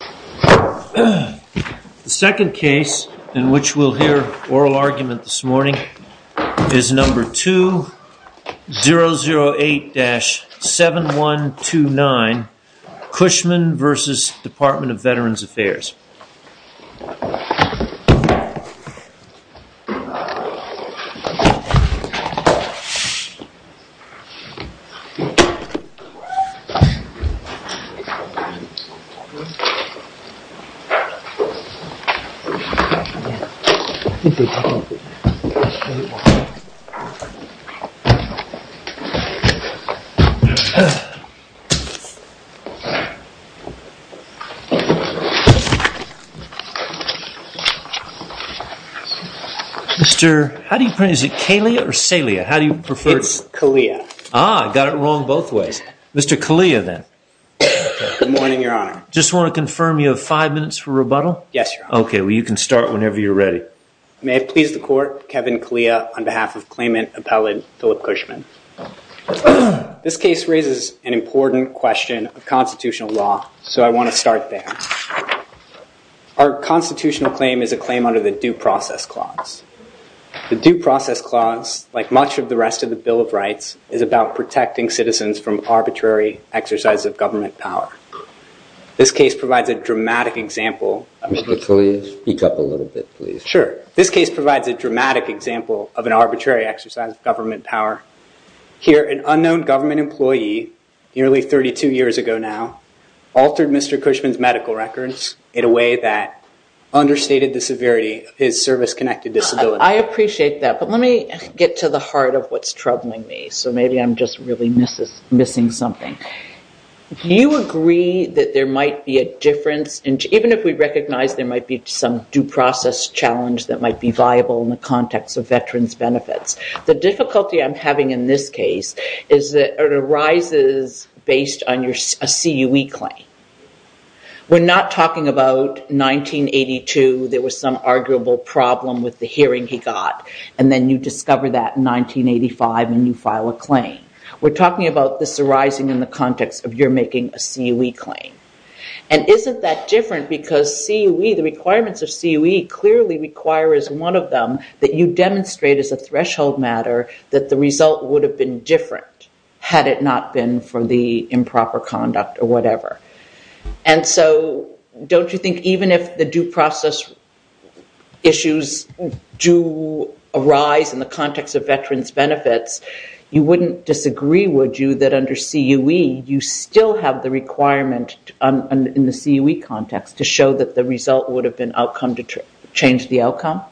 The second case in which we'll hear oral argument this morning is number 2008-7129 Cushman v. DVA. I think they're talking over here. Mr. How do you pronounce it? Kalea or Salea? How do you prefer? It's Kalea. Ah, I got it wrong both ways. Mr. Kalea then. Good morning, your honor. Just want to confirm you have five minutes for rebuttal? Yes, your honor. Okay, well you can start whenever you're ready. May it please the court, Kevin Kalea on behalf of claimant appellate Philip Cushman. This case raises an important question of constitutional law, so I want to start there. Our constitutional claim is a claim under the Due Process Clause. The Due Process Clause, like much of the rest of the Bill of Rights, is about protecting citizens from arbitrary exercise of government power. This case provides a dramatic example. Mr. Kalea, speak up a little bit, please. Sure. This case provides a dramatic example of an arbitrary exercise of government power. Here, an unknown government employee, nearly 32 years ago now, altered Mr. Cushman's medical records in a way that I appreciate that, but let me get to the heart of what's troubling me, so maybe I'm just really missing something. Do you agree that there might be a difference, even if we recognize there might be some due process challenge that might be viable in the context of veterans' benefits? The difficulty I'm having in this case is that it arises based on a CUE claim. We're not talking about 1982, there was some arguable problem with the hearing he got, and then you discover that in 1985 and you file a claim. We're talking about this arising in the context of your making a CUE claim. And isn't that different because CUE, the requirements of CUE, clearly require as one of them that you demonstrate as a threshold matter that the result would have been different, had it not been for the improper conduct or whatever. And so, don't you think even if the due process issues do arise in the context of veterans' benefits, you wouldn't disagree, would you, that under CUE, you still have the requirement in the CUE context to show that the result would have been outcome to change the outcome?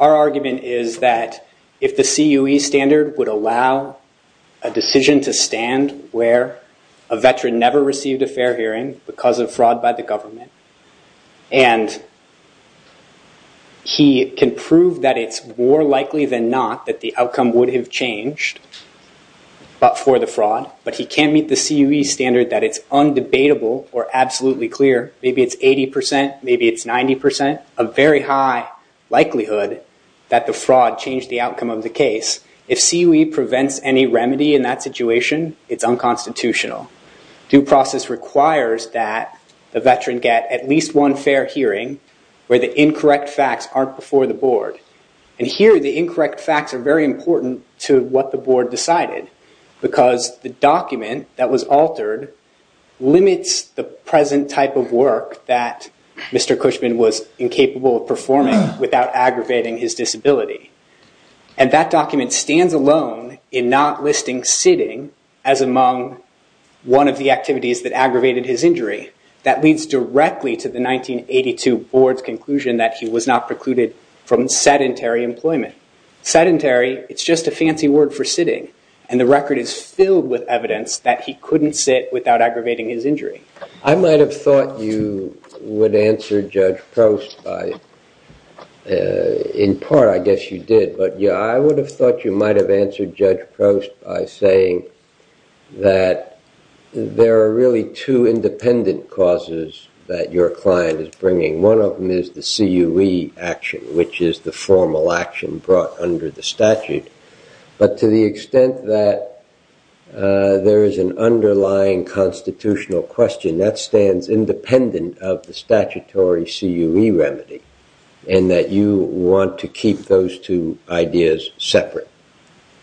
Our argument is that if the CUE standard would allow a decision to stand where a veteran never received a fair hearing because of fraud by the government, and he can prove that it's more likely than not that the outcome would have changed for the fraud, but he can't meet the CUE standard that it's undebatable or absolutely clear, maybe it's 80%, maybe it's 90%, a very high likelihood that the fraud changed the outcome of the case. If CUE prevents any remedy in that situation, it's unconstitutional. Due process requires that the veteran get at least one fair hearing where the incorrect facts aren't before the board. And here, the incorrect facts are very important to what the board decided because the document that was altered limits the present type of work that Mr. Cushman was incapable of performing without aggravating his disability. And that document stands alone in not listing sitting as among one of the activities that aggravated his injury. That leads directly to the 1982 board's conclusion that he was not precluded from sedentary employment. Sedentary, it's just a fancy word for sitting. And the record is filled with evidence that he couldn't sit without aggravating his injury. I might have thought you would answer Judge Prost by, in part I guess you did, but I would have thought you might have answered Judge Prost by saying that there are really two independent causes that your client is bringing. One of them is the CUE action, which is the formal action brought under the statute. But to the extent that there is an underlying constitutional question that stands independent of the statutory CUE remedy and that you want to keep those two ideas separate.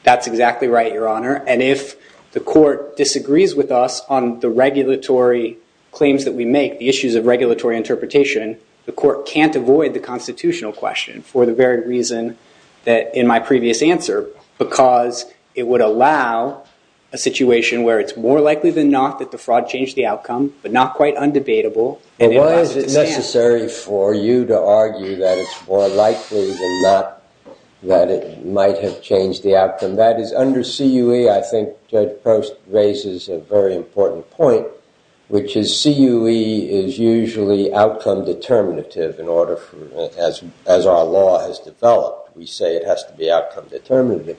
That's exactly right, Your Honor. And if the court disagrees with us on the regulatory claims that we make, the issues of regulatory interpretation, the court can't avoid the constitutional question for the very reason that in my previous answer, because it would allow a situation where it's more likely than not that the fraud changed the outcome, but not quite undebatable. And why is it necessary for you to argue that it's more likely than not that it might have changed the outcome? And that is under CUE, I think Judge Prost raises a very important point, which is CUE is usually outcome determinative as our law has developed. We say it has to be outcome determinative.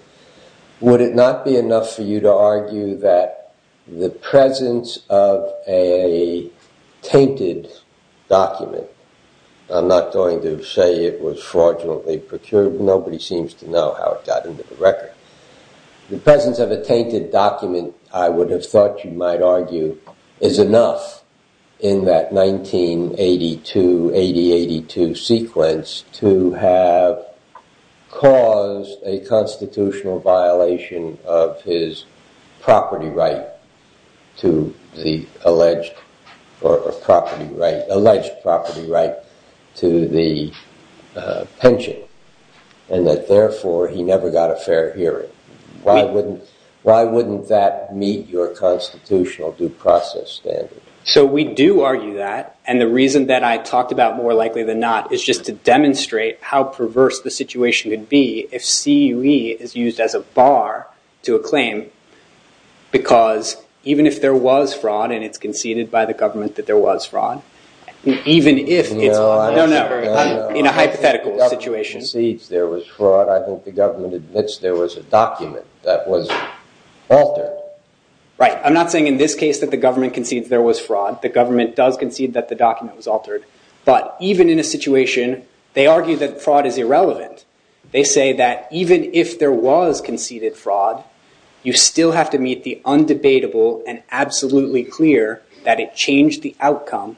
Would it not be enough for you to argue that the presence of a tainted document, I'm not going to say it was fraudulently procured. Nobody seems to know how it got into the record. The presence of a tainted document, I would have thought you might argue, is enough in that 1982, 80-82 sequence to have caused a constitutional violation of his property right to the alleged, or property right, alleged property right to the pension, and that therefore he never got a fair hearing. Why wouldn't that meet your constitutional due process standard? So we do argue that, and the reason that I talked about more likely than not is just to demonstrate how perverse the situation could be if CUE is used as a bar to a claim, because even if there was fraud and it's conceded by the government that there was fraud, even if it's, no, no, in a hypothetical situation. I think the government admits there was a document that was altered. Right, I'm not saying in this case that the government concedes there was fraud. The government does concede that the document was altered, but even in a situation, they argue that fraud is irrelevant. They say that even if there was conceded fraud, you still have to meet the undebatable and absolutely clear that it changed the outcome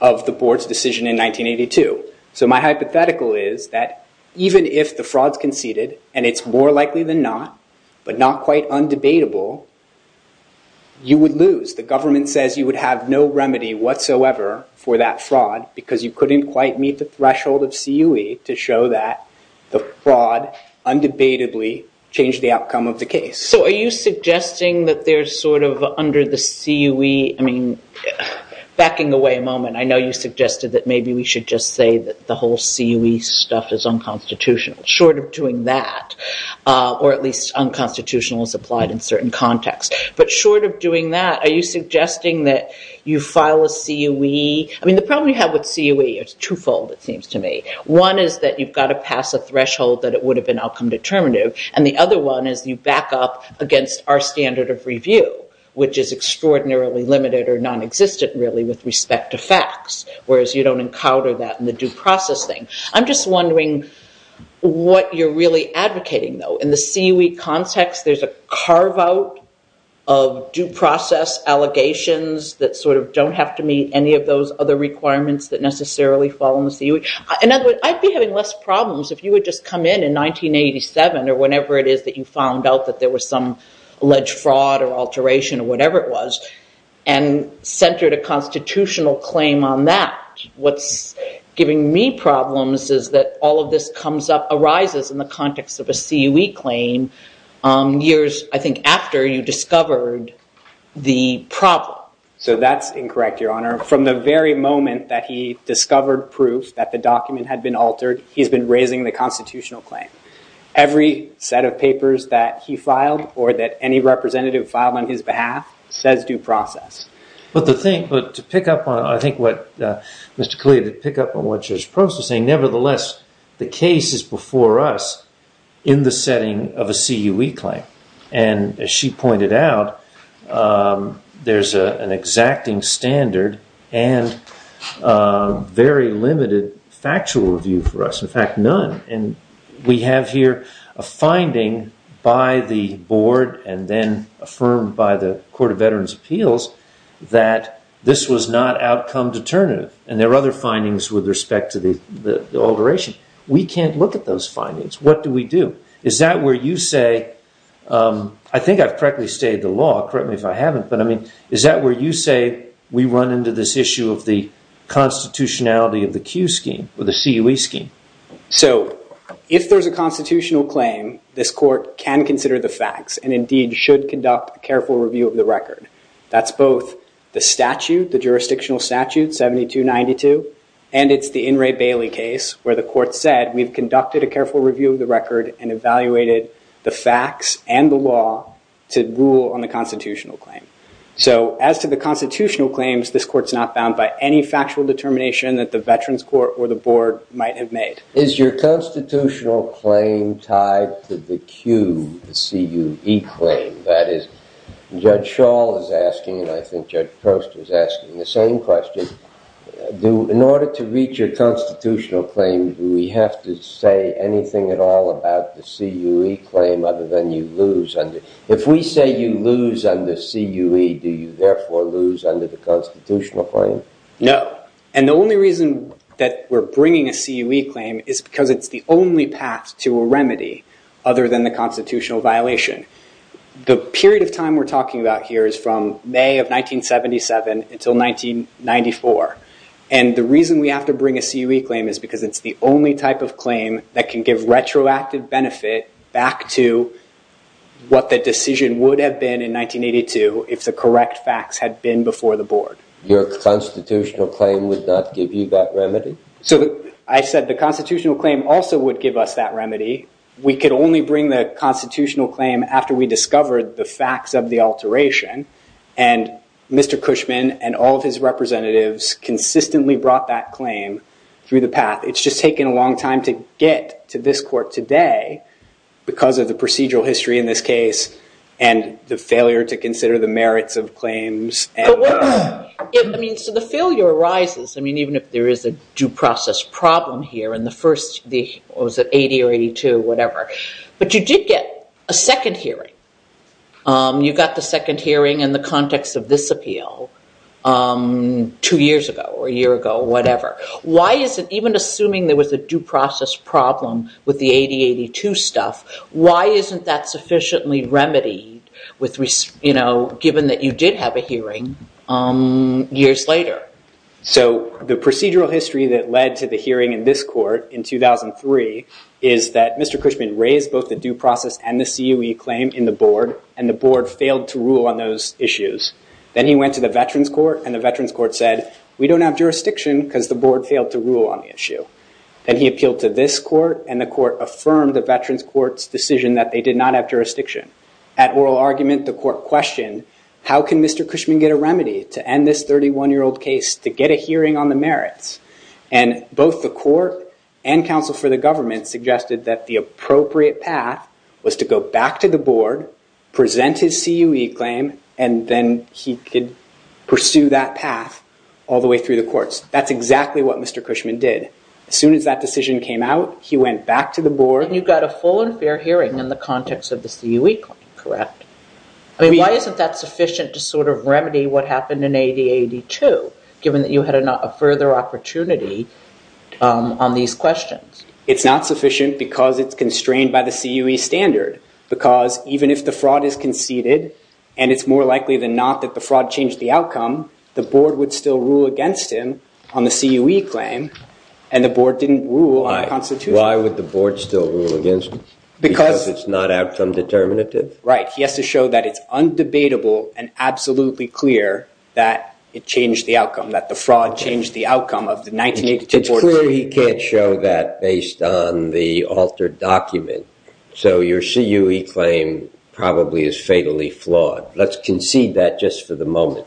of the board's decision in 1982. So my hypothetical is that even if the fraud's conceded, and it's more likely than not, but not quite undebatable, you would lose. The government says you would have no remedy whatsoever for that fraud, because you couldn't quite meet the threshold of CUE to show that the fraud undebatably changed the outcome of the case. So are you suggesting that there's sort of under the CUE, I mean, backing away a moment, I know you suggested that maybe we should just say that the whole CUE stuff is unconstitutional. Short of doing that, or at least unconstitutional as applied in certain contexts, but short of doing that, are you suggesting that you file a CUE? I mean, the problem you have with CUE, it's twofold, it seems to me. One is that you've got to pass a threshold that it would have been outcome determinative, and the other one is you back up against our standard of review, which is extraordinarily limited or nonexistent, really, with respect to facts, whereas you don't encounter that in the due process thing. I'm just wondering what you're really advocating, though. In the CUE context, there's a carve-out of due process allegations that sort of don't have to meet any of those other requirements that necessarily fall in the CUE. In other words, I'd be having less problems if you would just come in in 1987, or whenever it is that you found out that there was some alleged fraud or alteration or whatever it was, and centered a constitutional claim on that. What's giving me problems is that all of this comes up, arises in the context of a CUE claim, years, I think, after you discovered the problem. So that's incorrect, Your Honor. From the very moment that he discovered proof that the document had been altered, he's been raising the constitutional claim. Every set of papers that he filed or that any representative filed on his behalf says due process. But to pick up on, I think, what Mr. Khalil did pick up on, which is processing, nevertheless, the case is before us in the setting of a CUE claim. And as she pointed out, there's an exacting standard and very limited factual review for us. In fact, none. And we have here a finding by the board and then affirmed by the Court of Veterans' Appeals that this was not outcome determinative. And there are other findings with respect to the alteration. We can't look at those findings. What do we do? Is that where you say, I think I've correctly stated the law. Correct me if I haven't. But, I mean, is that where you say we run into this issue of the constitutionality of the CUE scheme or the CUE scheme? So if there's a constitutional claim, this court can consider the facts and indeed should conduct a careful review of the record. That's both the statute, the jurisdictional statute, 7292, and it's the In re Bailey case where the court said we've conducted a careful review of the record and evaluated the facts and the law to rule on the constitutional claim. So as to the constitutional claims, this court's not bound by any factual determination that the veterans court or the board might have made. Is your constitutional claim tied to the CUE, the C-U-E claim? That is, Judge Schall is asking, and I think Judge Post was asking the same question, in order to reach a constitutional claim, do we have to say anything at all about the C-U-E claim other than you lose under, if we say you lose under C-U-E, do you therefore lose under the constitutional claim? No. And the only reason that we're bringing a C-U-E claim is because it's the only path to a remedy other than the constitutional violation. The period of time we're talking about here is from May of 1977 until 1994. And the reason we have to bring a C-U-E claim is because it's the only type of claim that can give retroactive benefit back to what the decision would have been in 1982 if the correct facts had been before the board. Your constitutional claim would not give you that remedy? So I said the constitutional claim also would give us that remedy. We could only bring the constitutional claim after we discovered the facts of the alteration. And Mr. Cushman and all of his representatives consistently brought that claim through the path. It's just taken a long time to get to this court today because of the procedural history in this case and the failure to consider the merits of claims. So the failure arises, even if there is a due process problem here. It was at 80 or 82, whatever. But you did get a second hearing. You got the second hearing in the context of this appeal two years ago or a year ago, whatever. Even assuming there was a due process problem with the 80-82 stuff, why isn't that sufficiently remedied given that you did have a hearing years later? So the procedural history that led to the hearing in this court in 2003 is that Mr. Cushman raised both the due process and the CUE claim in the board, and the board failed to rule on those issues. Then he went to the Veterans Court, and the Veterans Court said, we don't have jurisdiction because the board failed to rule on the issue. Then he appealed to this court, and the court affirmed the Veterans Court's decision that they did not have jurisdiction. At oral argument, the court questioned, how can Mr. Cushman get a remedy to end this 31-year-old case to get a hearing on the merits? And both the court and counsel for the government suggested that the appropriate path was to go back to the board, present his CUE claim, and then he could pursue that path all the way through the courts. That's exactly what Mr. Cushman did. As soon as that decision came out, he went back to the board. And you got a full and fair hearing in the context of the CUE claim, correct? Why isn't that sufficient to sort of remedy what happened in 8082, given that you had a further opportunity on these questions? It's not sufficient because it's constrained by the CUE standard. Because even if the fraud is conceded, and it's more likely than not that the fraud changed the outcome, the board would still rule against him on the CUE claim, and the board didn't rule on the Constitution. Why would the board still rule against him? Because it's not outcome determinative? Right. He has to show that it's undebatable and absolutely clear that it changed the outcome, that the fraud changed the outcome of the 1982 board hearing. It's clear he can't show that based on the altered document. So your CUE claim probably is fatally flawed. Let's concede that just for the moment.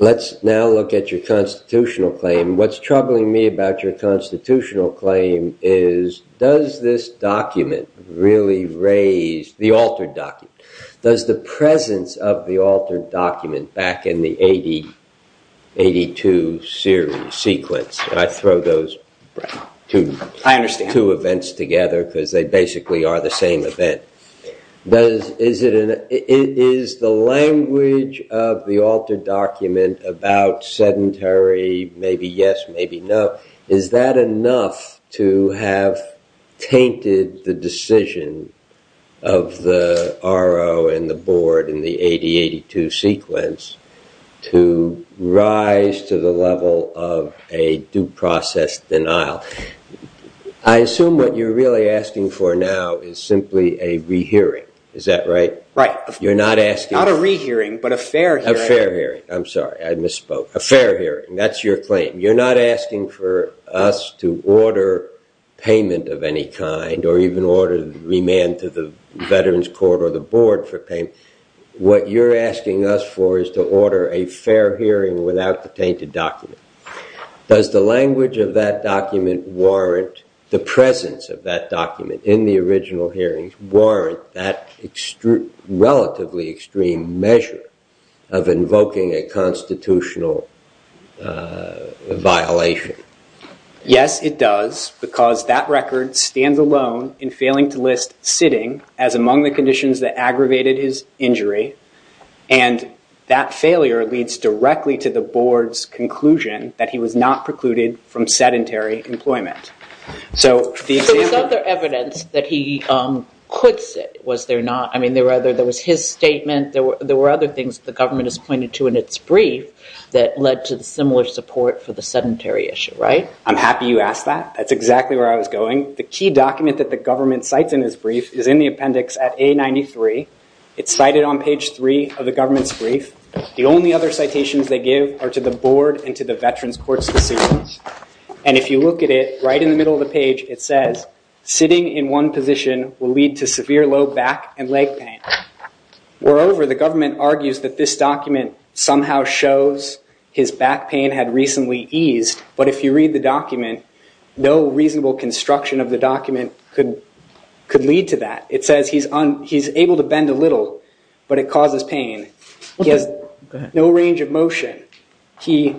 Let's now look at your constitutional claim. What's troubling me about your constitutional claim is, does this document really raise the altered document? Does the presence of the altered document back in the 8082 sequence, and I throw those two events together because they basically are the same event, is the language of the altered document about sedentary, maybe yes, maybe no, is that enough to have tainted the decision of the RO and the board in the 8082 sequence to rise to the level of a due process denial? I assume what you're really asking for now is simply a rehearing. Is that right? Right. You're not asking... Not a rehearing, but a fair hearing. A fair hearing. I'm sorry. I misspoke. A fair hearing. That's your claim. You're not asking for us to order payment of any kind or even order remand to the Veterans Court or the board for payment. What you're asking us for is to order a fair hearing without the tainted document. Does the language of that document warrant the presence of that document in the original hearings warrant that relatively extreme measure of invoking a constitutional violation? Yes, it does, because that record stands alone in failing to list sitting as among the conditions that aggravated his injury, and that failure leads directly to the board's conclusion that he was not precluded from sedentary employment. There was other evidence that he could sit, was there not? I mean, there was his statement. There were other things the government has pointed to in its brief that led to the similar support for the sedentary issue, right? I'm happy you asked that. That's exactly where I was going. The key document that the government cites in his brief is in the appendix at A93. It's cited on page three of the government's brief. The only other citations they give are to the board and to the Veterans Court's decisions. And if you look at it, right in the middle of the page, it says, sitting in one position will lead to severe low back and leg pain. Moreover, the government argues that this document somehow shows his back pain had recently eased, but if you read the document, no reasonable construction of the document could lead to that. It says he's able to bend a little, but it causes pain. He has no range of motion. He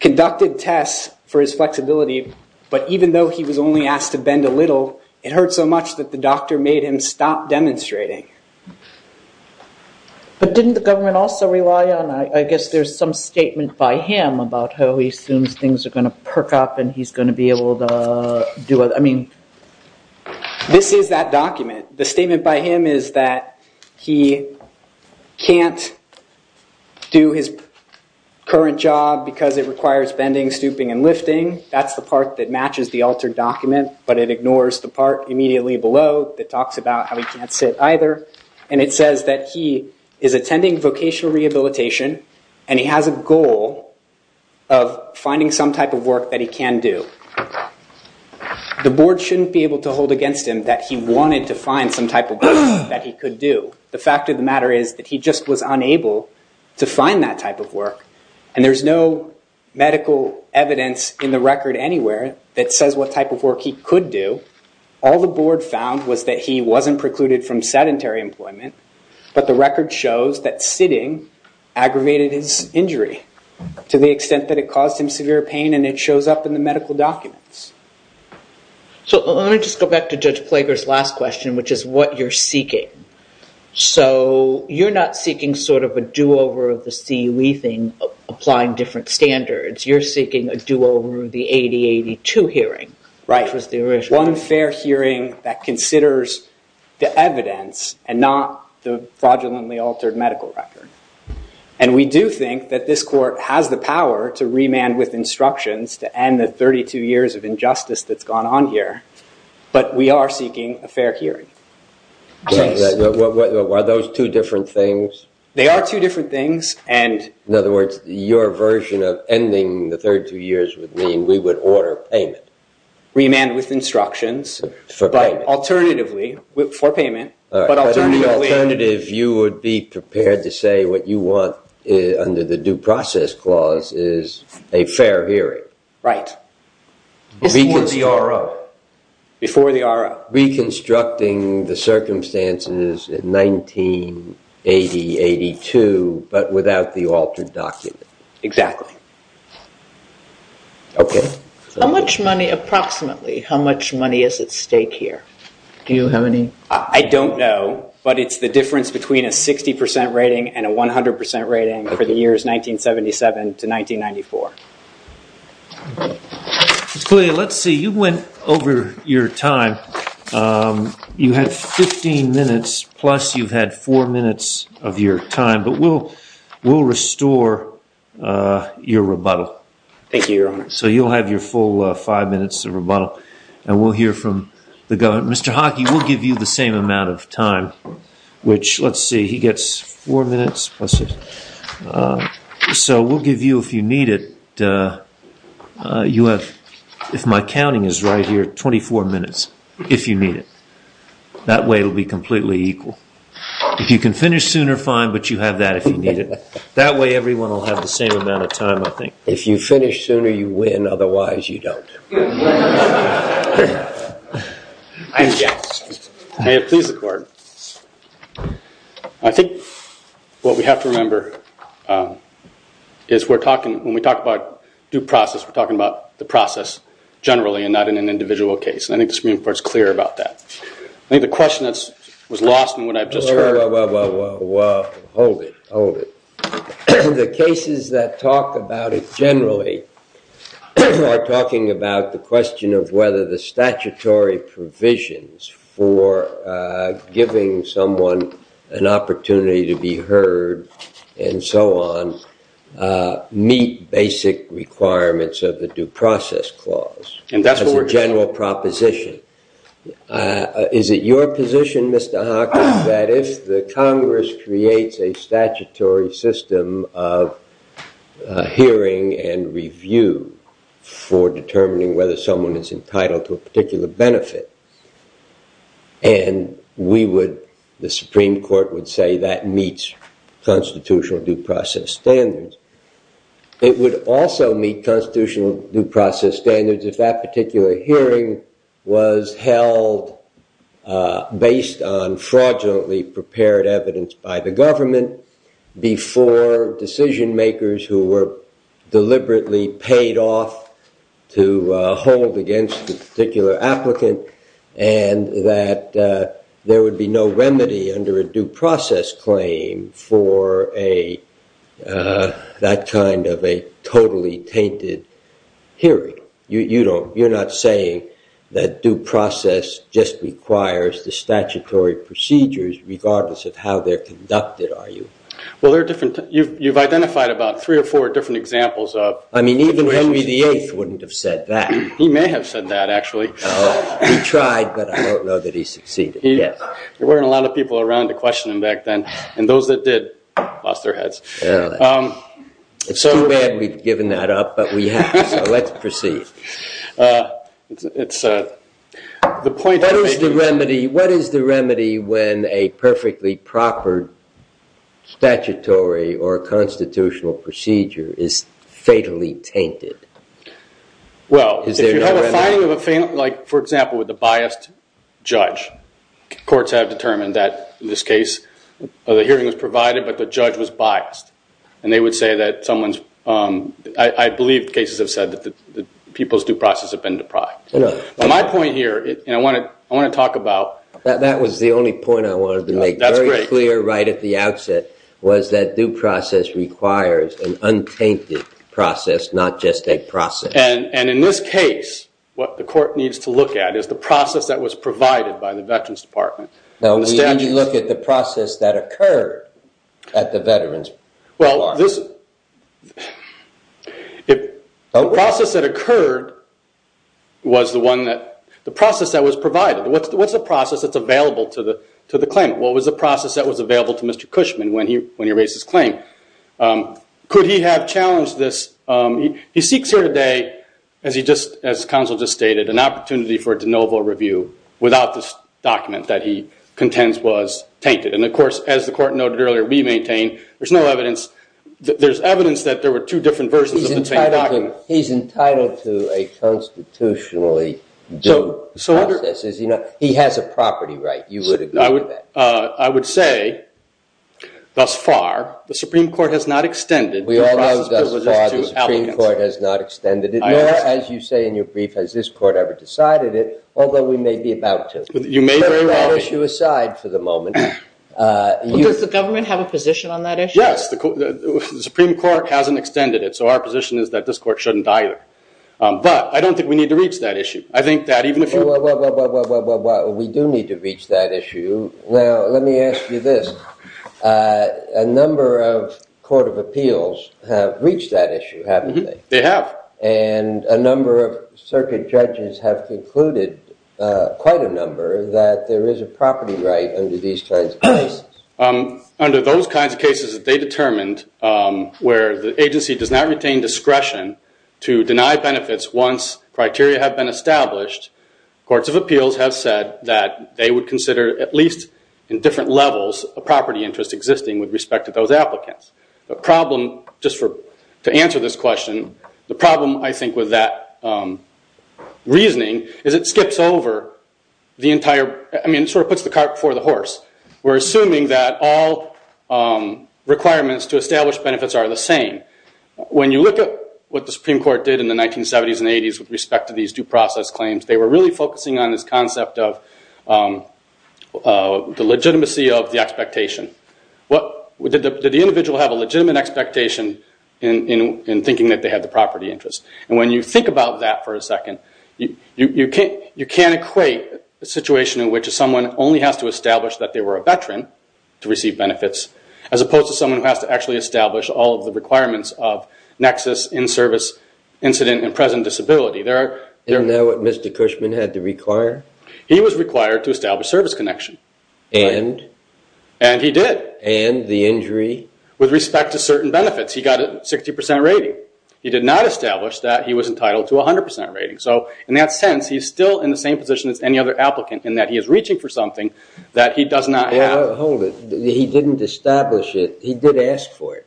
conducted tests for his flexibility, but even though he was only asked to bend a little, it hurt so much that the doctor made him stop demonstrating. But didn't the government also rely on, I guess there's some statement by him about how he assumes things are going to perk up and he's going to be able to do it? I mean, this is that document. The statement by him is that he can't do his current job because it requires bending, stooping, and lifting. That's the part that matches the altered document, but it ignores the part immediately below that talks about how he can't sit either. And it says that he is attending vocational rehabilitation and he has a goal of finding some type of work that he can do. The board shouldn't be able to hold against him that he wanted to find some type of work that he could do. The fact of the matter is that he just was unable to find that type of work. And there's no medical evidence in the record anywhere that says what type of work he could do. All the board found was that he wasn't precluded from sedentary employment, but the record shows that sitting aggravated his injury to the extent that it caused him severe pain and it shows up in the medical documents. So let me just go back to Judge Plager's last question, which is what you're seeking. So you're not seeking sort of a do-over of the CUE thing, applying different standards. You're seeking a do-over of the 8082 hearing, right? One fair hearing that considers the evidence and not the fraudulently altered medical record. And we do think that this court has the power to remand with instructions to end the 32 years of injustice that's gone on here. But we are seeking a fair hearing. Are those two different things? They are two different things. In other words, your version of ending the 32 years would mean we would order payment. Remand with instructions, but alternatively, for payment. But alternatively, you would be prepared to say what you want under the due process clause is a fair hearing. Right. Before the RO. Before the RO. Reconstructing the circumstances in 1980-82, but without the altered document. Exactly. Okay. How much money, approximately, how much money is at stake here? Do you have any? I don't know. But it's the difference between a 60% rating and a 100% rating for the years 1977 to 1994. Let's see. You went over your time. You had 15 minutes, plus you've had four minutes of your time. But we'll restore your rebuttal. Thank you, Your Honor. So you'll have your full five minutes of rebuttal. And we'll hear from the government. Mr. Hockey, we'll give you the same amount of time, which, let's see, he gets four minutes. So we'll give you, if you need it, you have, if my counting is right here, 24 minutes, if you need it. That way it will be completely equal. If you can finish sooner, fine, but you have that if you need it. That way everyone will have the same amount of time, I think. If you finish sooner, you win. Otherwise, you don't. May it please the Court. I think what we have to remember is we're talking, when we talk about due process, we're talking about the process generally and not in an individual case. And I think the Supreme Court's clear about that. I think the question that was lost in what I've just heard. Whoa, whoa, whoa, whoa, whoa, whoa. Hold it. Hold it. The cases that talk about it generally are talking about the question of whether the statutory provisions for giving someone an opportunity to be heard and so on meet basic requirements of the due process clause. And that's what we're discussing. As a general proposition. Is it your position, Mr. Hawkins, that if the Congress creates a statutory system of hearing and review for determining whether someone is entitled to a particular benefit, and the Supreme Court would say that meets constitutional due process standards, it would also meet constitutional due process standards if that particular hearing was held based on fraudulently prepared evidence by the government before decision makers who were deliberately paid off to hold against the particular applicant and that there would be no remedy under a due process claim for that kind of a totally tainted hearing? You're not saying that due process just requires the statutory procedures regardless of how they're conducted, are you? Well, there are different... You've identified about three or four different examples of... I mean, even Henry VIII wouldn't have said that. He may have said that, actually. He tried, but I don't know that he succeeded. There weren't a lot of people around to question him back then, and those that did lost their heads. It's too bad we've given that up, but we have, so let's proceed. What is the remedy when a perfectly proper statutory or constitutional procedure is fatally tainted? Well, if you have a finding of a... Like, for example, with a biased judge. Courts have determined that, in this case, the hearing was provided, but the judge was biased, and they would say that someone's... I believe cases have said that people's due process have been deprived. My point here, and I want to talk about... That was the only point I wanted to make. That's great. ...was that due process requires an untainted process, not just a process. And in this case, what the court needs to look at is the process that was provided by the Veterans Department. No, we need to look at the process that occurred at the Veterans Department. Well, this... The process that occurred was the one that... The process that was provided. What's the process that's available to the claimant? What was the process that was available to Mr. Cushman when he raised his claim? Could he have challenged this? He seeks here today, as the counsel just stated, an opportunity for a de novo review without this document that he contends was tainted. And, of course, as the court noted earlier, we maintain there's no evidence... There's evidence that there were two different versions of the same document. He's entitled to a constitutionally due process. He has a property right. You would agree with that. I would say thus far the Supreme Court has not extended... We all know thus far the Supreme Court has not extended it. Nor, as you say in your brief, has this court ever decided it, although we may be about to. You may very well be. That issue aside for the moment... Does the government have a position on that issue? Yes. The Supreme Court hasn't extended it, so our position is that this court shouldn't either. But I don't think we need to reach that issue. I think that even if you... We do need to reach that issue. Now, let me ask you this. A number of court of appeals have reached that issue, haven't they? They have. And a number of circuit judges have concluded, quite a number, that there is a property right under these kinds of cases. Under those kinds of cases that they determined where the agency does not retain discretion to deny benefits once criteria have been established, courts of appeals have said that they would consider at least in different levels a property interest existing with respect to those applicants. The problem, just to answer this question, the problem, I think, with that reasoning is it skips over the entire... I mean, it sort of puts the cart before the horse. We're assuming that all requirements to establish benefits are the same. When you look at what the Supreme Court did in the 1970s and 80s with respect to these due process claims, they were really focusing on this concept of the legitimacy of the expectation. Did the individual have a legitimate expectation in thinking that they had the property interest? And when you think about that for a second, you can't equate a situation in which someone only has to establish that they were a veteran to receive benefits, as opposed to someone who has to actually establish all of the requirements of nexus, in-service, incident, and present disability. Isn't that what Mr. Cushman had to require? He was required to establish service connection. And? And he did. And the injury? With respect to certain benefits, he got a 60% rating. He did not establish that he was entitled to a 100% rating. So in that sense, he's still in the same position as any other applicant in that he is reaching for something that he does not have. Hold it. He didn't establish it. He did ask for it.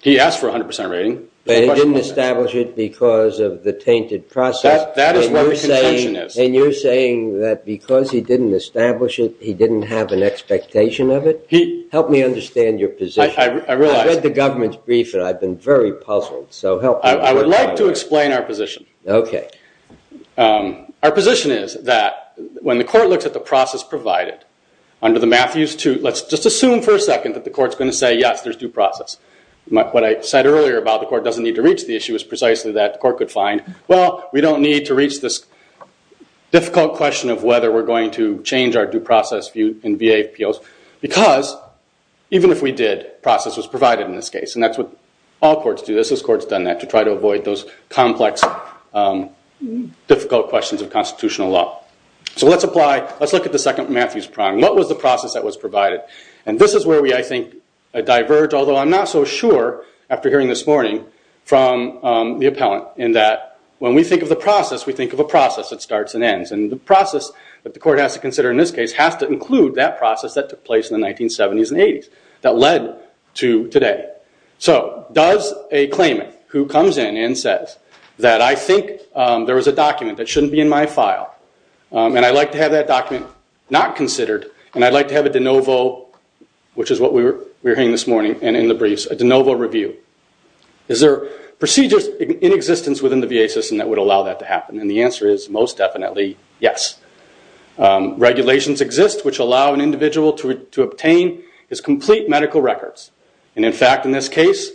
He asked for a 100% rating. But he didn't establish it because of the tainted process. That is what the contention is. And you're saying that because he didn't establish it, he didn't have an expectation of it? Help me understand your position. I realize. I read the government's brief, and I've been very puzzled. So help me. I would like to explain our position. OK. Our position is that when the court looks at the process provided under the Matthews 2, let's just assume for a second that the court's going to say, yes, there's due process. What I said earlier about the court doesn't need to reach the issue is precisely that the court could find, well, we don't need to reach this difficult question of whether we're going to change our due process in VA POs because even if we did, process was provided in this case. And that's what all courts do. This is courts done that to try to avoid those complex, difficult questions of constitutional law. So let's apply, let's look at the second Matthews prong. What was the process that was provided? And this is where we, I think, diverge, although I'm not so sure after hearing this morning, from the appellant in that when we think of the process, we think of a process that starts and ends. And the process that the court has to consider in this case has to include that process that took place in the 1970s and 80s that led to today. So does a claimant who comes in and says that I think there was a document that shouldn't be in my file, and I'd like to have that document not considered, and I'd like to have a de novo, which is what we were hearing this morning and in the briefs, a de novo review. Is there procedures in existence within the VA system that would allow that to happen? And the answer is most definitely yes. Regulations exist which allow an individual to obtain his complete medical records. And in fact, in this case,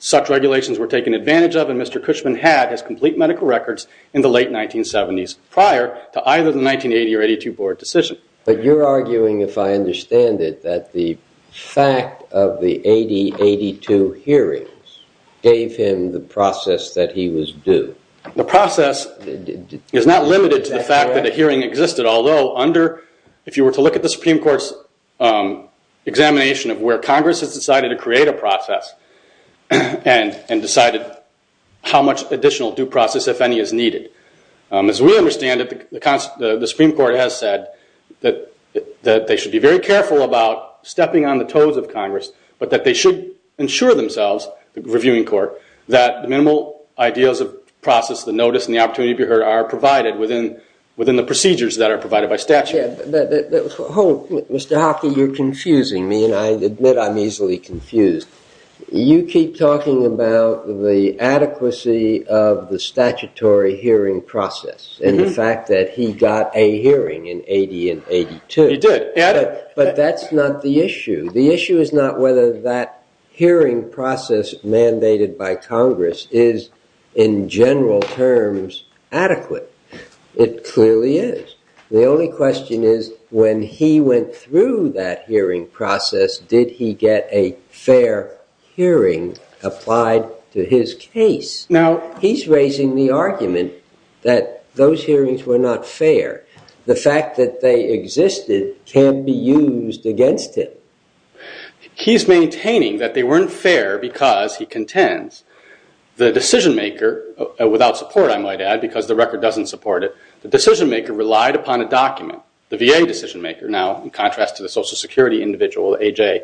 such regulations were taken advantage of when Mr. Cushman had his complete medical records in the late 1970s prior to either the 1980 or 82 board decision. But you're arguing, if I understand it, that the fact of the 80-82 hearings gave him the process that he was due. The process is not limited to the fact that a hearing existed, although if you were to look at the Supreme Court's examination of where Congress has decided to create a process and decided how much additional due process, if any, is needed. As we understand it, the Supreme Court has said that they should be very careful about stepping on the toes of Congress, but that they should ensure themselves, the reviewing court, that minimal ideas of process, the notice, and the opportunity to be heard are provided within the procedures that are provided by statute. Mr. Hockey, you're confusing me, and I admit I'm easily confused. You keep talking about the adequacy of the statutory hearing process and the fact that he got a hearing in 80 and 82. He did. But that's not the issue. The issue is not whether that hearing process mandated by Congress is, in general terms, adequate. It clearly is. The only question is, when he went through that hearing process, did he get a fair hearing applied to his case? Now, he's raising the argument that those hearings were not fair. The fact that they existed can be used against him. He's maintaining that they weren't fair because, he contends, the decision-maker, without support, I might add, because the record doesn't support it, the decision-maker relied upon a document. The VA decision-maker, now in contrast to the Social Security individual, AJ,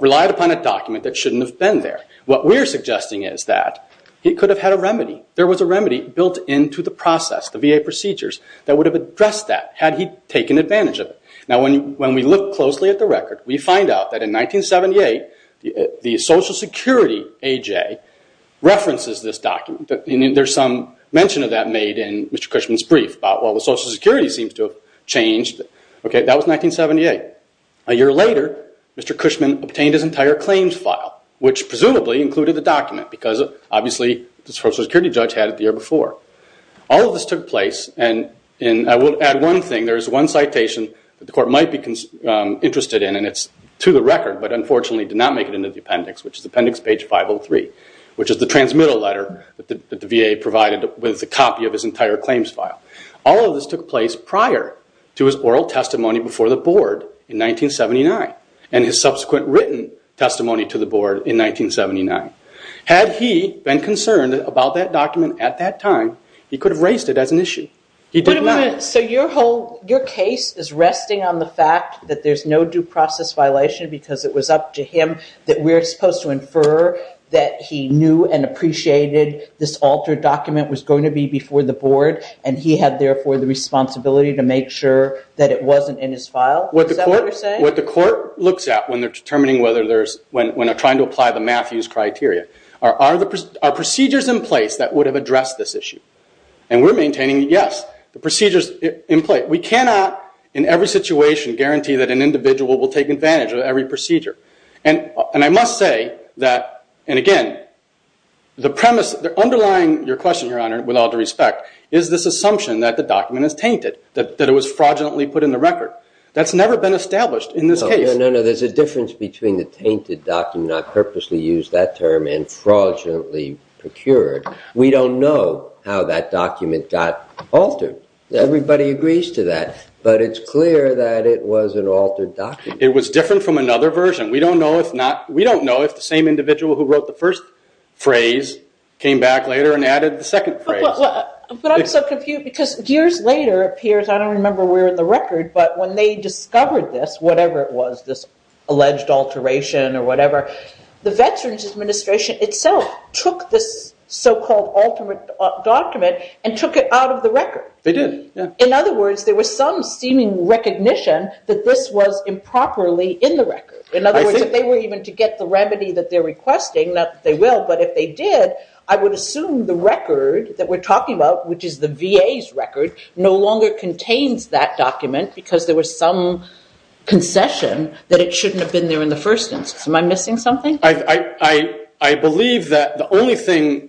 relied upon a document that shouldn't have been there. What we're suggesting is that he could have had a remedy. There was a remedy built into the process, the VA procedures, that would have addressed that had he taken advantage of it. Now, when we look closely at the record, we find out that in 1978, the Social Security AJ references this document. There's some mention of that made in Mr. Cushman's brief about, well, the Social Security seems to have changed. That was 1978. A year later, Mr. Cushman obtained his entire claims file, which presumably included the document, because obviously the Social Security judge had it the year before. All of this took place, and I will add one thing. There is one citation that the court might be interested in, and it's to the record, but unfortunately did not make it into the appendix, which is appendix page 503, which is the transmittal letter that the VA provided with a copy of his entire claims file. All of this took place prior to his oral testimony before the board in 1979 and his subsequent written testimony to the board in 1979. Had he been concerned about that document at that time, he could have raised it as an issue. He did not. Your case is resting on the fact that there's no due process violation because it was up to him that we're supposed to infer that he knew and appreciated this altered document was going to be before the board, and he had, therefore, the responsibility to make sure that it wasn't in his file. Is that what you're saying? What the court looks at when they're trying to apply the Matthews criteria are procedures in place that would have addressed this issue. We're maintaining, yes, the procedures in place. We cannot, in every situation, guarantee that an individual will take advantage of every procedure. And I must say that, and again, the premise underlying your question, Your Honor, with all due respect, is this assumption that the document is tainted, that it was fraudulently put in the record. That's never been established in this case. No, no, no. There's a difference between the tainted document, I purposely used that term, and fraudulently procured. We don't know how that document got altered. Everybody agrees to that, but it's clear that it was an altered document. It was different from another version. We don't know if the same individual who wrote the first phrase came back later and added the second phrase. But I'm so confused because years later it appears, I don't remember where in the record, but when they discovered this, whatever it was, this alleged alteration or whatever, the Veterans Administration itself took this so-called alternate document and took it out of the record. They did, yeah. In other words, there was some seeming recognition that this was improperly in the record. In other words, if they were even to get the remedy that they're requesting, not that they will, but if they did, I would assume the record that we're talking about, which is the VA's record, no longer contains that document because there was some concession that it shouldn't have been there in the first instance. Am I missing something? I believe that the only thing,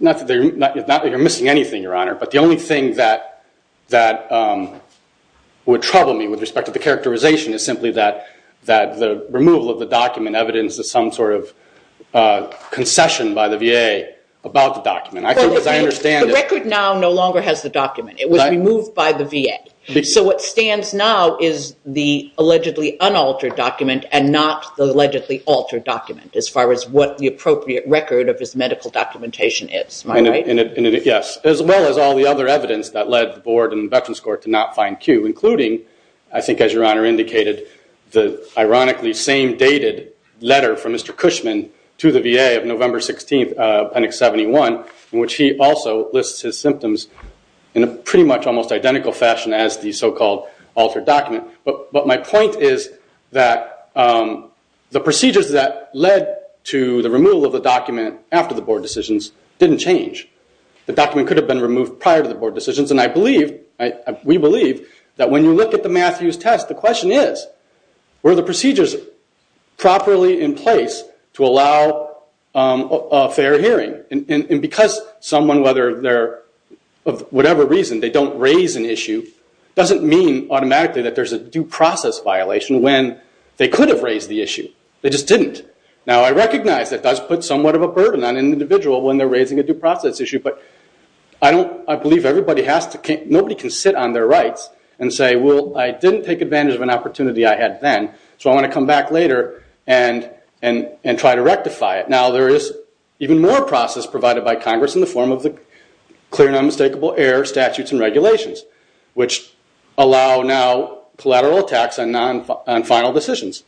not that you're missing anything, Your Honor, but the only thing that would trouble me with respect to the characterization is simply that the removal of the document evidences some sort of concession by the VA about the document. The record now no longer has the document. It was removed by the VA. So what stands now is the allegedly unaltered document and not the allegedly altered document as far as what the appropriate record of his medical documentation is. Am I right? Yes, as well as all the other evidence that led the Board and Veterans Court to not find Q, including, I think as Your Honor indicated, the ironically same-dated letter from Mr. Cushman to the VA of November 16, Appendix 71, in which he also lists his symptoms in a pretty much almost identical fashion as the so-called altered document. But my point is that the procedures that led to the removal of the document after the Board decisions didn't change. The document could have been removed prior to the Board decisions, and we believe that when you look at the Matthews test, the question is, were the procedures properly in place to allow a fair hearing? And because someone, of whatever reason, they don't raise an issue, doesn't mean automatically that there's a due process violation when they could have raised the issue. They just didn't. Now, I recognize that does put somewhat of a burden on an individual when they're raising a due process issue, but I believe nobody can sit on their rights and say, well, I didn't take advantage of an opportunity I had then, so I want to come back later and try to rectify it. Now, there is even more process provided by Congress in the form of the clear and unmistakable error statutes and regulations, which allow now collateral attacks on final decisions.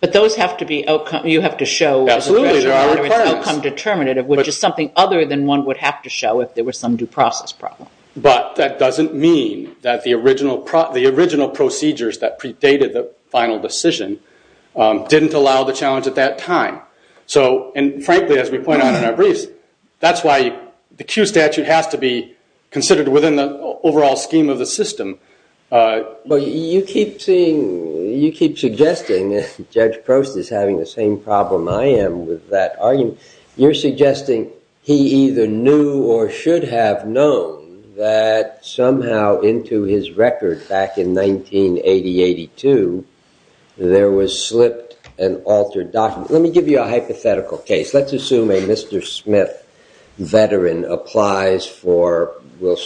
But those have to be outcome – you have to show – Absolutely, there are requirements. – outcome determinative, which is something other than one would have to show if there was some due process problem. But that doesn't mean that the original procedures that predated the final decision didn't allow the challenge at that time. So, and frankly, as we point out in our briefs, that's why the Q statute has to be considered within the overall scheme of the system. Well, you keep seeing – you keep suggesting – Judge Prost is having the same problem I am with that argument. You're suggesting he either knew or should have known that somehow into his record back in 1980, 82, there was slipped and altered documents. Let me give you a hypothetical case. Let's assume a Mr. Smith veteran applies for – for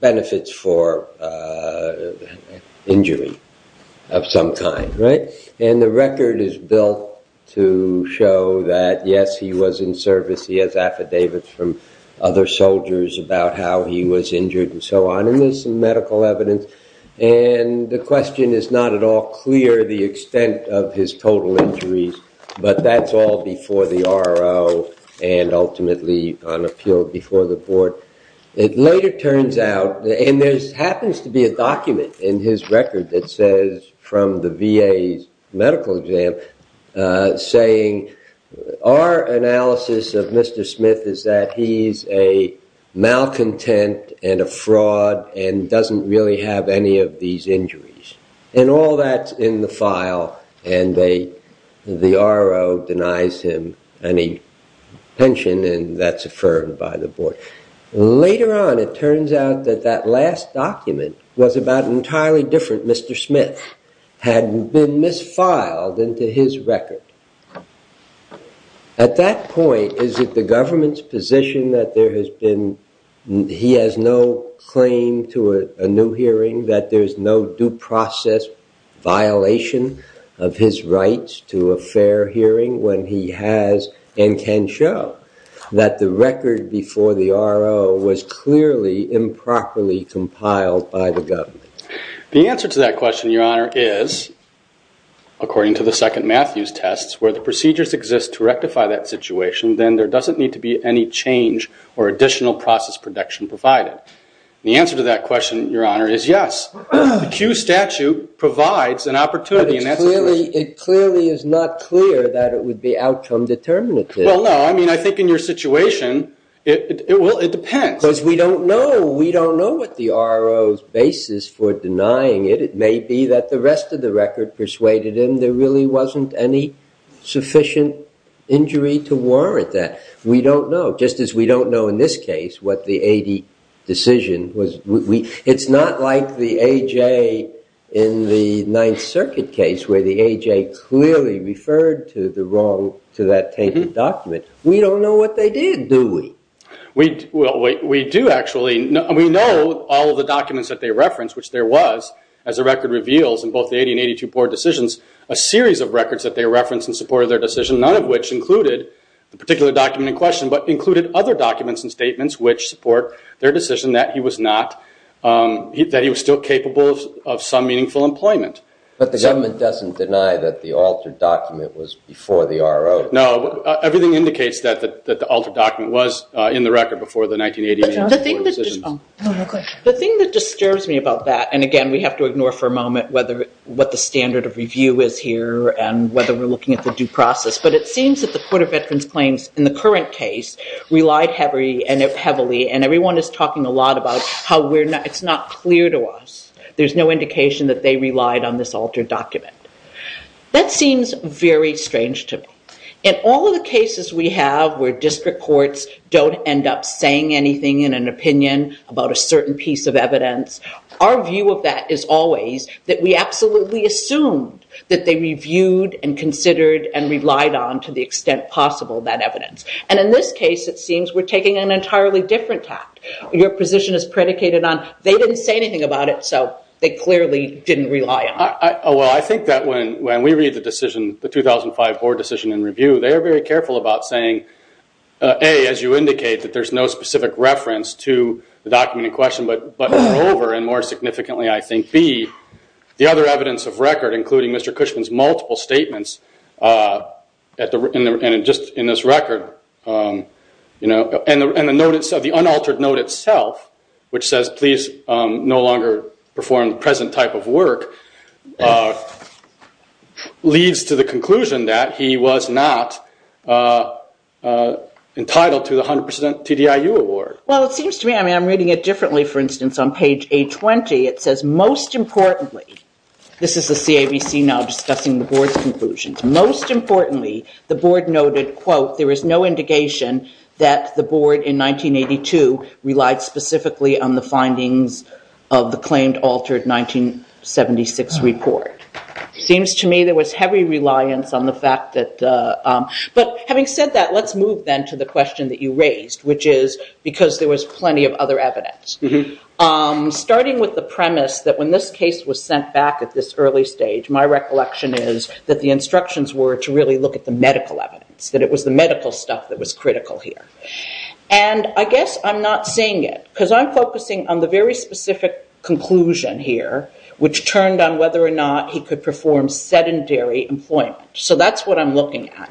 benefits for injury of some kind, right? And the record is built to show that, yes, he was in service. He has affidavits from other soldiers about how he was injured and so on. And there's some medical evidence. And the question is not at all clear the extent of his total injuries, but that's all before the RO and ultimately on appeal before the board. It later turns out – and there happens to be a document in his record that says, from the VA's medical exam, saying, our analysis of Mr. Smith is that he's a malcontent and a fraud and doesn't really have any of these injuries. And all that's in the file and the RO denies him any pension and that's affirmed by the board. Later on, it turns out that that last document was about an entirely different Mr. Smith, had been misfiled into his record. At that point, is it the government's position that there has been – that there's no due process violation of his rights to a fair hearing when he has and can show that the record before the RO was clearly improperly compiled by the government? The answer to that question, Your Honor, is, according to the second Matthews test, where the procedures exist to rectify that situation, then there doesn't need to be any change or additional process protection provided. The answer to that question, Your Honor, is yes. The Q statute provides an opportunity. But it clearly is not clear that it would be outcome determinative. Well, no. I mean, I think in your situation, it depends. Because we don't know. We don't know what the RO's basis for denying it. It may be that the rest of the record persuaded him there really wasn't any sufficient injury to warrant that. We don't know. Just as we don't know in this case what the AD decision was – it's not like the AJ in the Ninth Circuit case where the AJ clearly referred to the wrong – to that tainted document. We don't know what they did, do we? We do, actually. We know all of the documents that they referenced, which there was, as the record reveals, in both the AD and 82 Board decisions, a series of records that they referenced in support of their decision, none of which included the particular document in question, but included other documents and statements which support their decision that he was not – that he was still capable of some meaningful employment. But the government doesn't deny that the altered document was before the RO. No. Everything indicates that the altered document was in the record before the 1988 Board of Decisions. The thing that disturbs me about that – and again, we have to ignore for a moment what the standard of review is here and whether we're looking at the due process – but it seems that the Court of Veterans Claims in the current case relied heavily, and everyone is talking a lot about how it's not clear to us. There's no indication that they relied on this altered document. That seems very strange to me. In all of the cases we have where district courts don't end up saying anything in an opinion about a certain piece of evidence, our view of that is always that we absolutely assumed that they reviewed and considered and relied on to the extent possible that evidence. And in this case, it seems we're taking an entirely different tact. Your position is predicated on they didn't say anything about it, so they clearly didn't rely on it. Well, I think that when we read the 2005 Board Decision and Review, they are very careful about saying, A, as you indicate, that there's no specific reference to the document in question, but moreover and more significantly, I think, B, the other evidence of record, including Mr. Cushman's multiple statements in this record, and the unaltered note itself, which says, please no longer perform the present type of work, leads to the conclusion that he was not entitled to the 100% TDIU award. Well, it seems to me, I'm reading it differently. For instance, on page A20, it says, most importantly, this is the CABC now discussing the board's conclusions, most importantly, the board noted, quote, there is no indication that the board in 1982 relied specifically on the findings of the claimed altered 1976 report. Seems to me there was heavy reliance on the fact that, but having said that, let's move then to the question that you raised, which is because there was plenty of other evidence. Starting with the premise that when this case was sent back at this early stage, my recollection is that the instructions were to really look at the medical evidence, that it was the medical stuff that was critical here. And I guess I'm not seeing it because I'm focusing on the very specific conclusion here, which turned on whether or not he could perform sedentary employment. So that's what I'm looking at.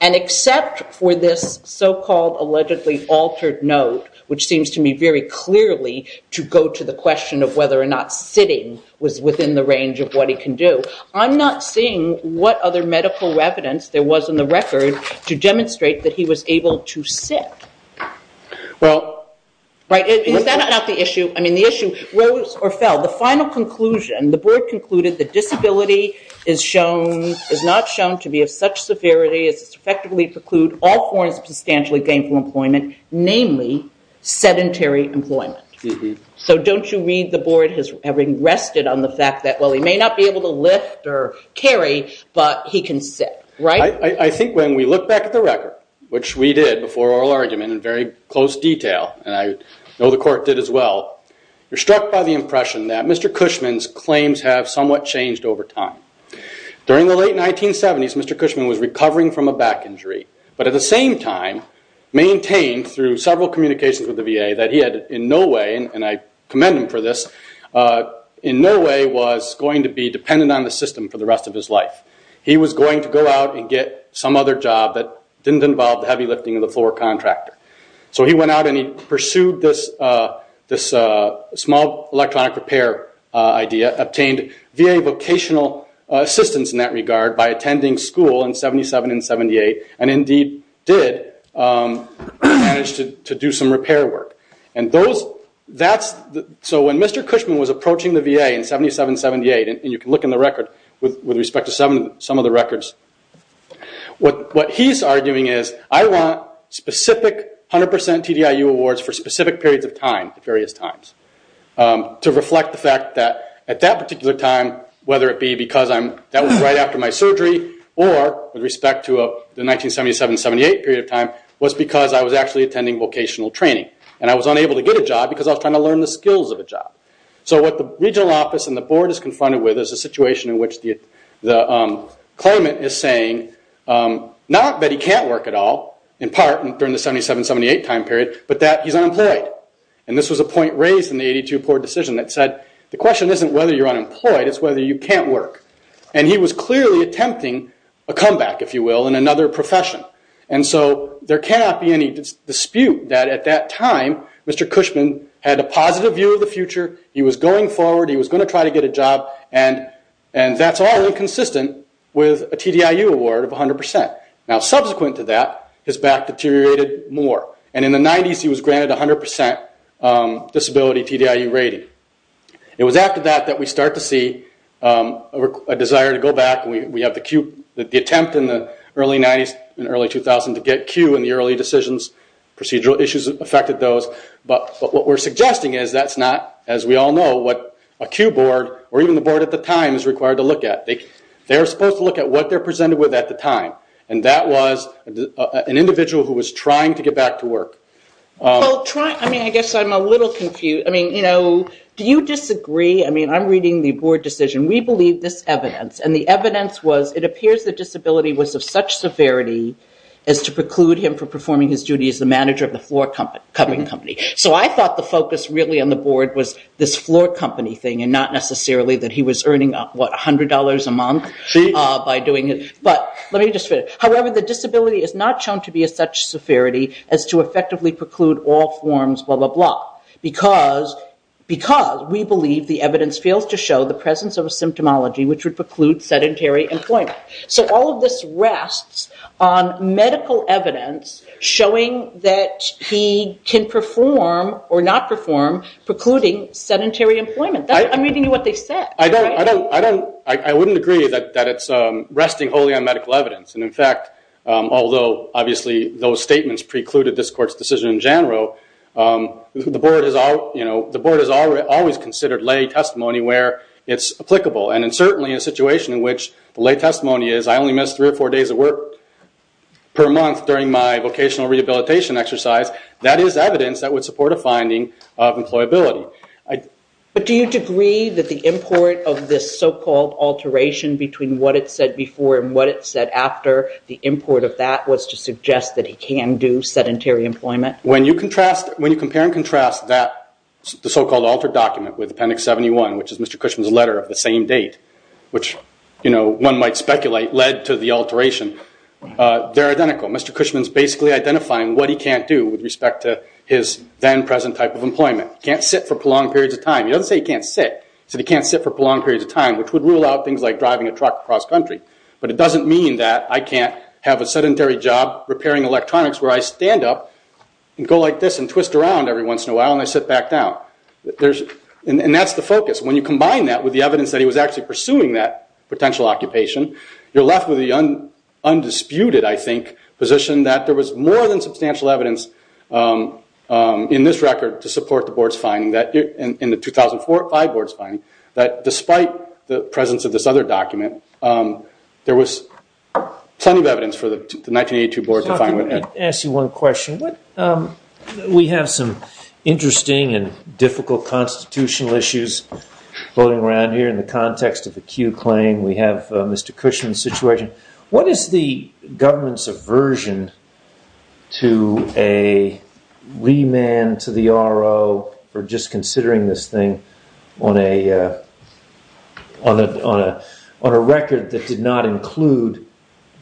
And except for this so-called allegedly altered note, which seems to me very clearly to go to the question of whether or not sitting was within the range of what he can do, I'm not seeing what other medical evidence there was in the record to demonstrate that he was able to sit. Well, right, is that not the issue? I mean, the issue rose or fell. The final conclusion, the board concluded that disability is shown, to be of such severity as to effectively preclude all forms of substantially gainful employment, namely sedentary employment. So don't you read the board has rested on the fact that, well, he may not be able to lift or carry, but he can sit, right? I think when we look back at the record, which we did before oral argument in very close detail, and I know the court did as well, you're struck by the impression that Mr. Cushman's claims have somewhat changed over time. During the late 1970s, Mr. Cushman was recovering from a back injury, but at the same time maintained through several communications with the VA that he had in no way, and I commend him for this, in no way was going to be dependent on the system for the rest of his life. He was going to go out and get some other job that didn't involve the heavy lifting of the floor contractor. So he went out and he pursued this small electronic repair idea, obtained VA vocational assistance in that regard by attending school in 77 and 78, and indeed did manage to do some repair work. So when Mr. Cushman was approaching the VA in 77 and 78, and you can look in the record with respect to some of the records, what he's arguing is I want specific 100% TDIU awards for specific periods of time at various times to reflect the fact that at that particular time, whether it be because that was right after my surgery, or with respect to the 1977-78 period of time, was because I was actually attending vocational training. And I was unable to get a job because I was trying to learn the skills of a job. So what the regional office and the board is confronted with is a situation in which the claimant is saying, not that he can't work at all, in part, during the 77-78 time period, but that he's unemployed. And this was a point raised in the 82 board decision that said, the question isn't whether you're unemployed, it's whether you can't work. And he was clearly attempting a comeback, if you will, in another profession. And so there cannot be any dispute that at that time, Mr. Cushman had a positive view of the future, he was going forward, he was going to try to get a job, and that's all inconsistent with a TDIU award of 100%. Now subsequent to that, his back deteriorated more. And in the 90s, he was granted a 100% disability TDIU rating. It was after that that we start to see a desire to go back. We have the attempt in the early 90s and early 2000s to get Q in the early decisions, procedural issues affected those. But what we're suggesting is that's not, as we all know, what a Q board, or even the board at the time, is required to look at. They're supposed to look at what they're presented with at the time. And that was an individual who was trying to get back to work. I guess I'm a little confused. Do you disagree? I'm reading the board decision. We believe this evidence, and the evidence was it appears that disability was of such severity as to preclude him from performing his duty as the manager of the floor-covering company. So I thought the focus really on the board was this floor company thing and not necessarily that he was earning, what, $100 a month by doing it. However, the disability is not shown to be of such severity as to effectively preclude all forms, blah, blah, blah, because we believe the evidence fails to show the presence of a symptomology which would preclude sedentary employment. So all of this rests on medical evidence showing that he can perform or not perform precluding sedentary employment. I'm reading you what they said. I wouldn't agree that it's resting wholly on medical evidence. And in fact, although obviously those statements precluded this court's decision in general, the board has always considered lay testimony where it's applicable. And in certainly a situation in which the lay testimony is I only missed three or four days of work per month during my vocational rehabilitation exercise, that is evidence that would support a finding of employability. But do you agree that the import of this so-called alteration between what it said before and what it said after, the import of that was to suggest that he can do sedentary employment? When you compare and contrast the so-called altered document with Appendix 71, which is Mr. Cushman's letter of the same date, which one might speculate led to the alteration, they're identical. Mr. Cushman's basically identifying what he can't do with respect to his then present type of employment. He can't sit for prolonged periods of time. He doesn't say he can't sit. He said he can't sit for prolonged periods of time, which would rule out things like driving a truck across country. But it doesn't mean that I can't have a sedentary job repairing electronics where I stand up and go like this and twist around every once in a while and I sit back down. And that's the focus. When you combine that with the evidence that he was actually pursuing that potential occupation, you're left with the undisputed, I think, position that there was more than substantial evidence in this record to support the board's finding, in the 2005 board's finding, that despite the presence of this other document, there was plenty of evidence for the 1982 board to find. Let me ask you one question. We have some interesting and difficult constitutional issues floating around here in the context of the Kew claim. We have Mr. Cushman's situation. What is the government's aversion to a remand to the RO for just considering this thing on a record that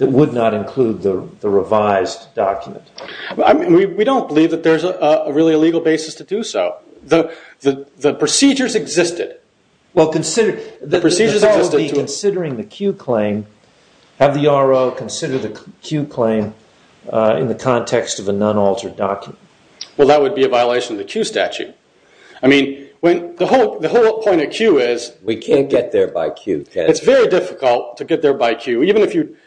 would not include the revised document? We don't believe that there's really a legal basis to do so. The procedures existed. The procedures would be considering the Kew claim, have the RO consider the Kew claim in the context of a non-altered document. Well, that would be a violation of the Kew statute. I mean, the whole point of Kew is... We can't get there by Kew. It's very difficult to get there by Kew.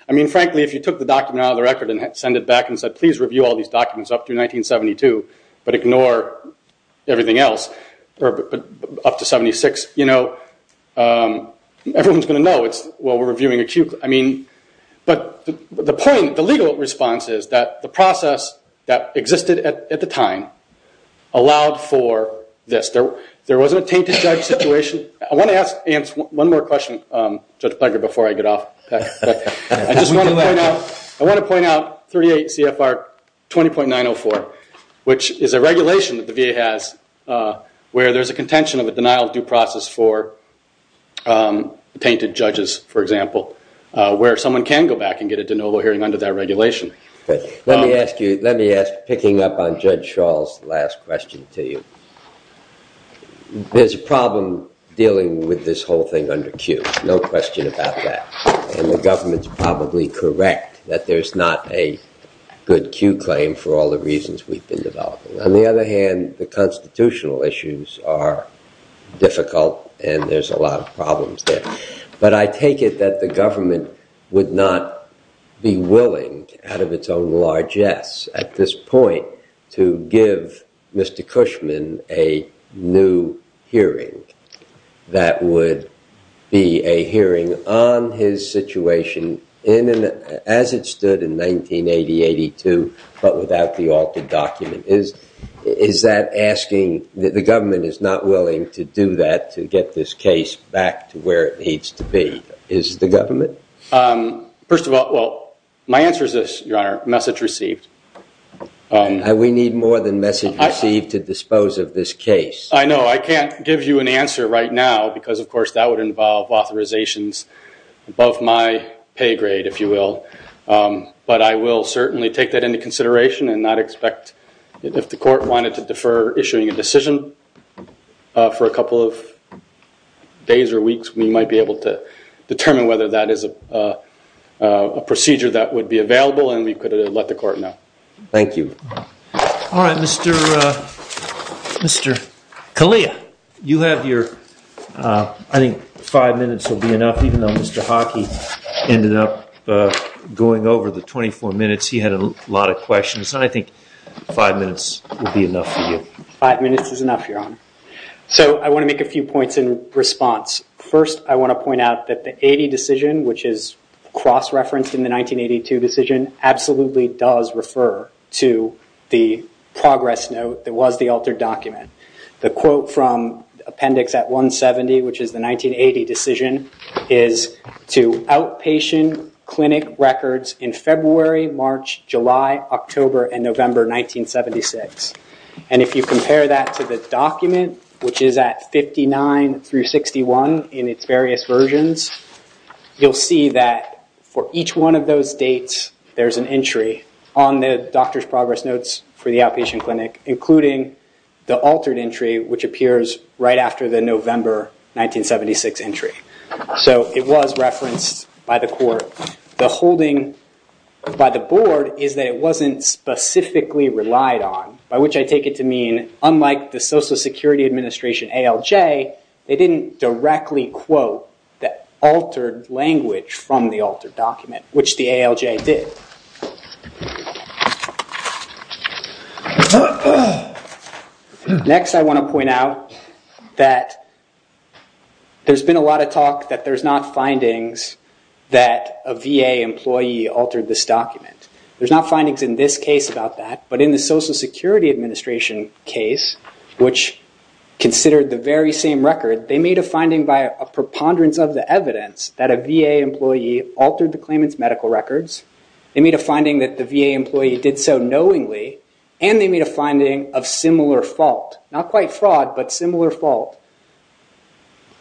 I mean, frankly, if you took the document out of the record and sent it back and said, please review all these documents up to 1972, but ignore everything else up to 76, you know, everyone's going to know it's while we're reviewing a Kew claim. I mean, but the point, the legal response is that the process that existed at the time allowed for this. There wasn't a tainted judge situation. I want to ask Ants one more question, Judge Plager, before I get off. I just want to point out, I want to point out 38 CFR 20.904, which is a regulation that the VA has where there's a contention of a denial of due process for tainted judges, for example, where someone can go back and get a de novo hearing under that regulation. Let me ask you, let me ask, picking up on Judge Schall's last question to you. There's a problem dealing with this whole thing under Kew. No question about that. And the government's probably correct that there's not a good Kew claim for all the reasons we've been developing. On the other hand, the constitutional issues are difficult and there's a lot of problems there. But I take it that the government would not be willing, out of its own largesse at this point, to give Mr. Cushman a new hearing that would be a hearing on his situation as it stood in 1980, 82, but without the altered document. Is that asking that the government is not willing to do that to get this case back to where it needs to be? Is the government? First of all, well, my answer is this, Your Honor, message received. We need more than message received to dispose of this case. I know. I can't give you an answer right now because, of course, that would involve authorizations above my pay grade, if you will. But I will certainly take that into consideration and not expect, if the court wanted to defer issuing a decision for a couple of days or weeks, we might be able to determine whether that is a procedure that would be available and we could let the court know. Thank you. All right, Mr. Kalia, I think five minutes will be enough, even though Mr. Hockey ended up going over the 24 minutes. He had a lot of questions, and I think five minutes will be enough for you. Five minutes is enough, Your Honor. So I want to make a few points in response. First, I want to point out that the 80 decision, which is cross-referenced in the 1982 decision, absolutely does refer to the progress note that was the altered document. The quote from appendix at 170, which is the 1980 decision, is to outpatient clinic records in February, March, July, October, and November 1976. And if you compare that to the document, which is at 59 through 61 in its various versions, you'll see that for each one of those dates, there's an entry on the doctor's progress notes for the outpatient clinic, including the altered entry, which appears right after the November 1976 entry. So it was referenced by the court. The holding by the board is that it wasn't specifically relied on, by which I take it to mean, unlike the Social Security Administration, ALJ, they didn't directly quote the altered language from the altered document, which the ALJ did. Next, I want to point out that there's been a lot of talk that there's not findings that a VA employee altered this document. There's not findings in this case about that. But in the Social Security Administration case, which considered the very same record, they made a finding by a preponderance of the evidence that a VA employee altered the claimant's medical records. They made a finding that the VA employee did so knowingly. And they made a finding of similar fault, not quite fraud, but similar fault,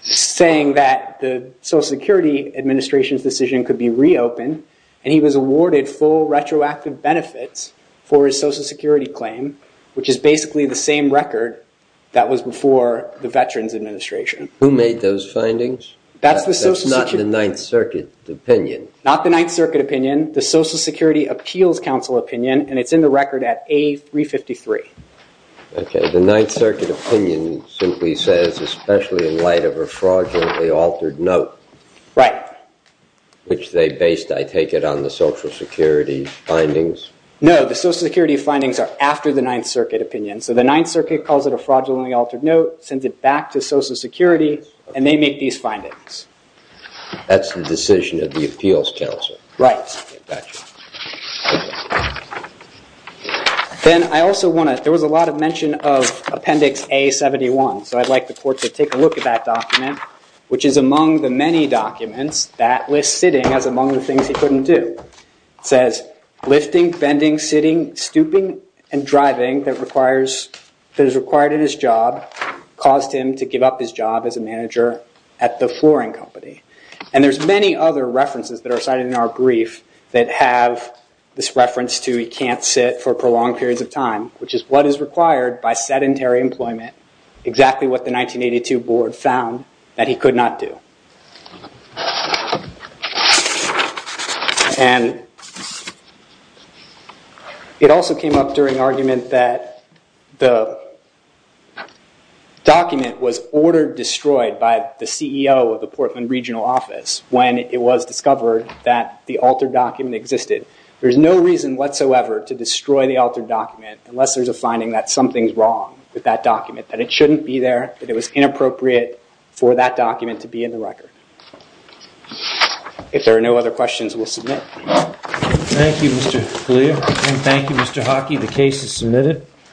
saying that the Social Security Administration's decision could be reopened. And he was awarded full retroactive benefits for his Social Security claim, which is basically the same record that was before the Veterans Administration. Who made those findings? That's the Social Security. That's not the Ninth Circuit opinion. Not the Ninth Circuit opinion. The Social Security Appeals Council opinion. And it's in the record at A353. OK. The Ninth Circuit opinion simply says, especially in light of a fraudulently altered note. Right. Which they based, I take it, on the Social Security findings. No. The Social Security findings are after the Ninth Circuit opinion. So the Ninth Circuit calls it a fraudulently altered note, sends it back to Social Security, and they make these findings. That's the decision of the Appeals Council. Right. Got you. OK. Then I also want to, there was a lot of mention of Appendix A71. So I'd like the court to take a look at that document, which is among the many documents that lists sitting as among the things he couldn't do. It says, lifting, bending, sitting, stooping, and driving that is required in his job caused him to give up his job as a manager at the flooring company. And there's many other references that are cited in our brief that have this reference to he can't sit for prolonged periods of time, which is what is required by sedentary employment. Exactly what the 1982 board found that he could not do. And it also came up during argument that the document was ordered destroyed by the CEO of the Portland Regional Office when it was discovered that the altered document existed. There's no reason whatsoever to destroy the altered document unless there's a finding that something's wrong with that document, that it shouldn't be there, that it was inappropriate for that document to be in the record. If there are no other questions, we'll submit. Thank you, Mr. Galea. And thank you, Mr. Hockey. The case is submitted.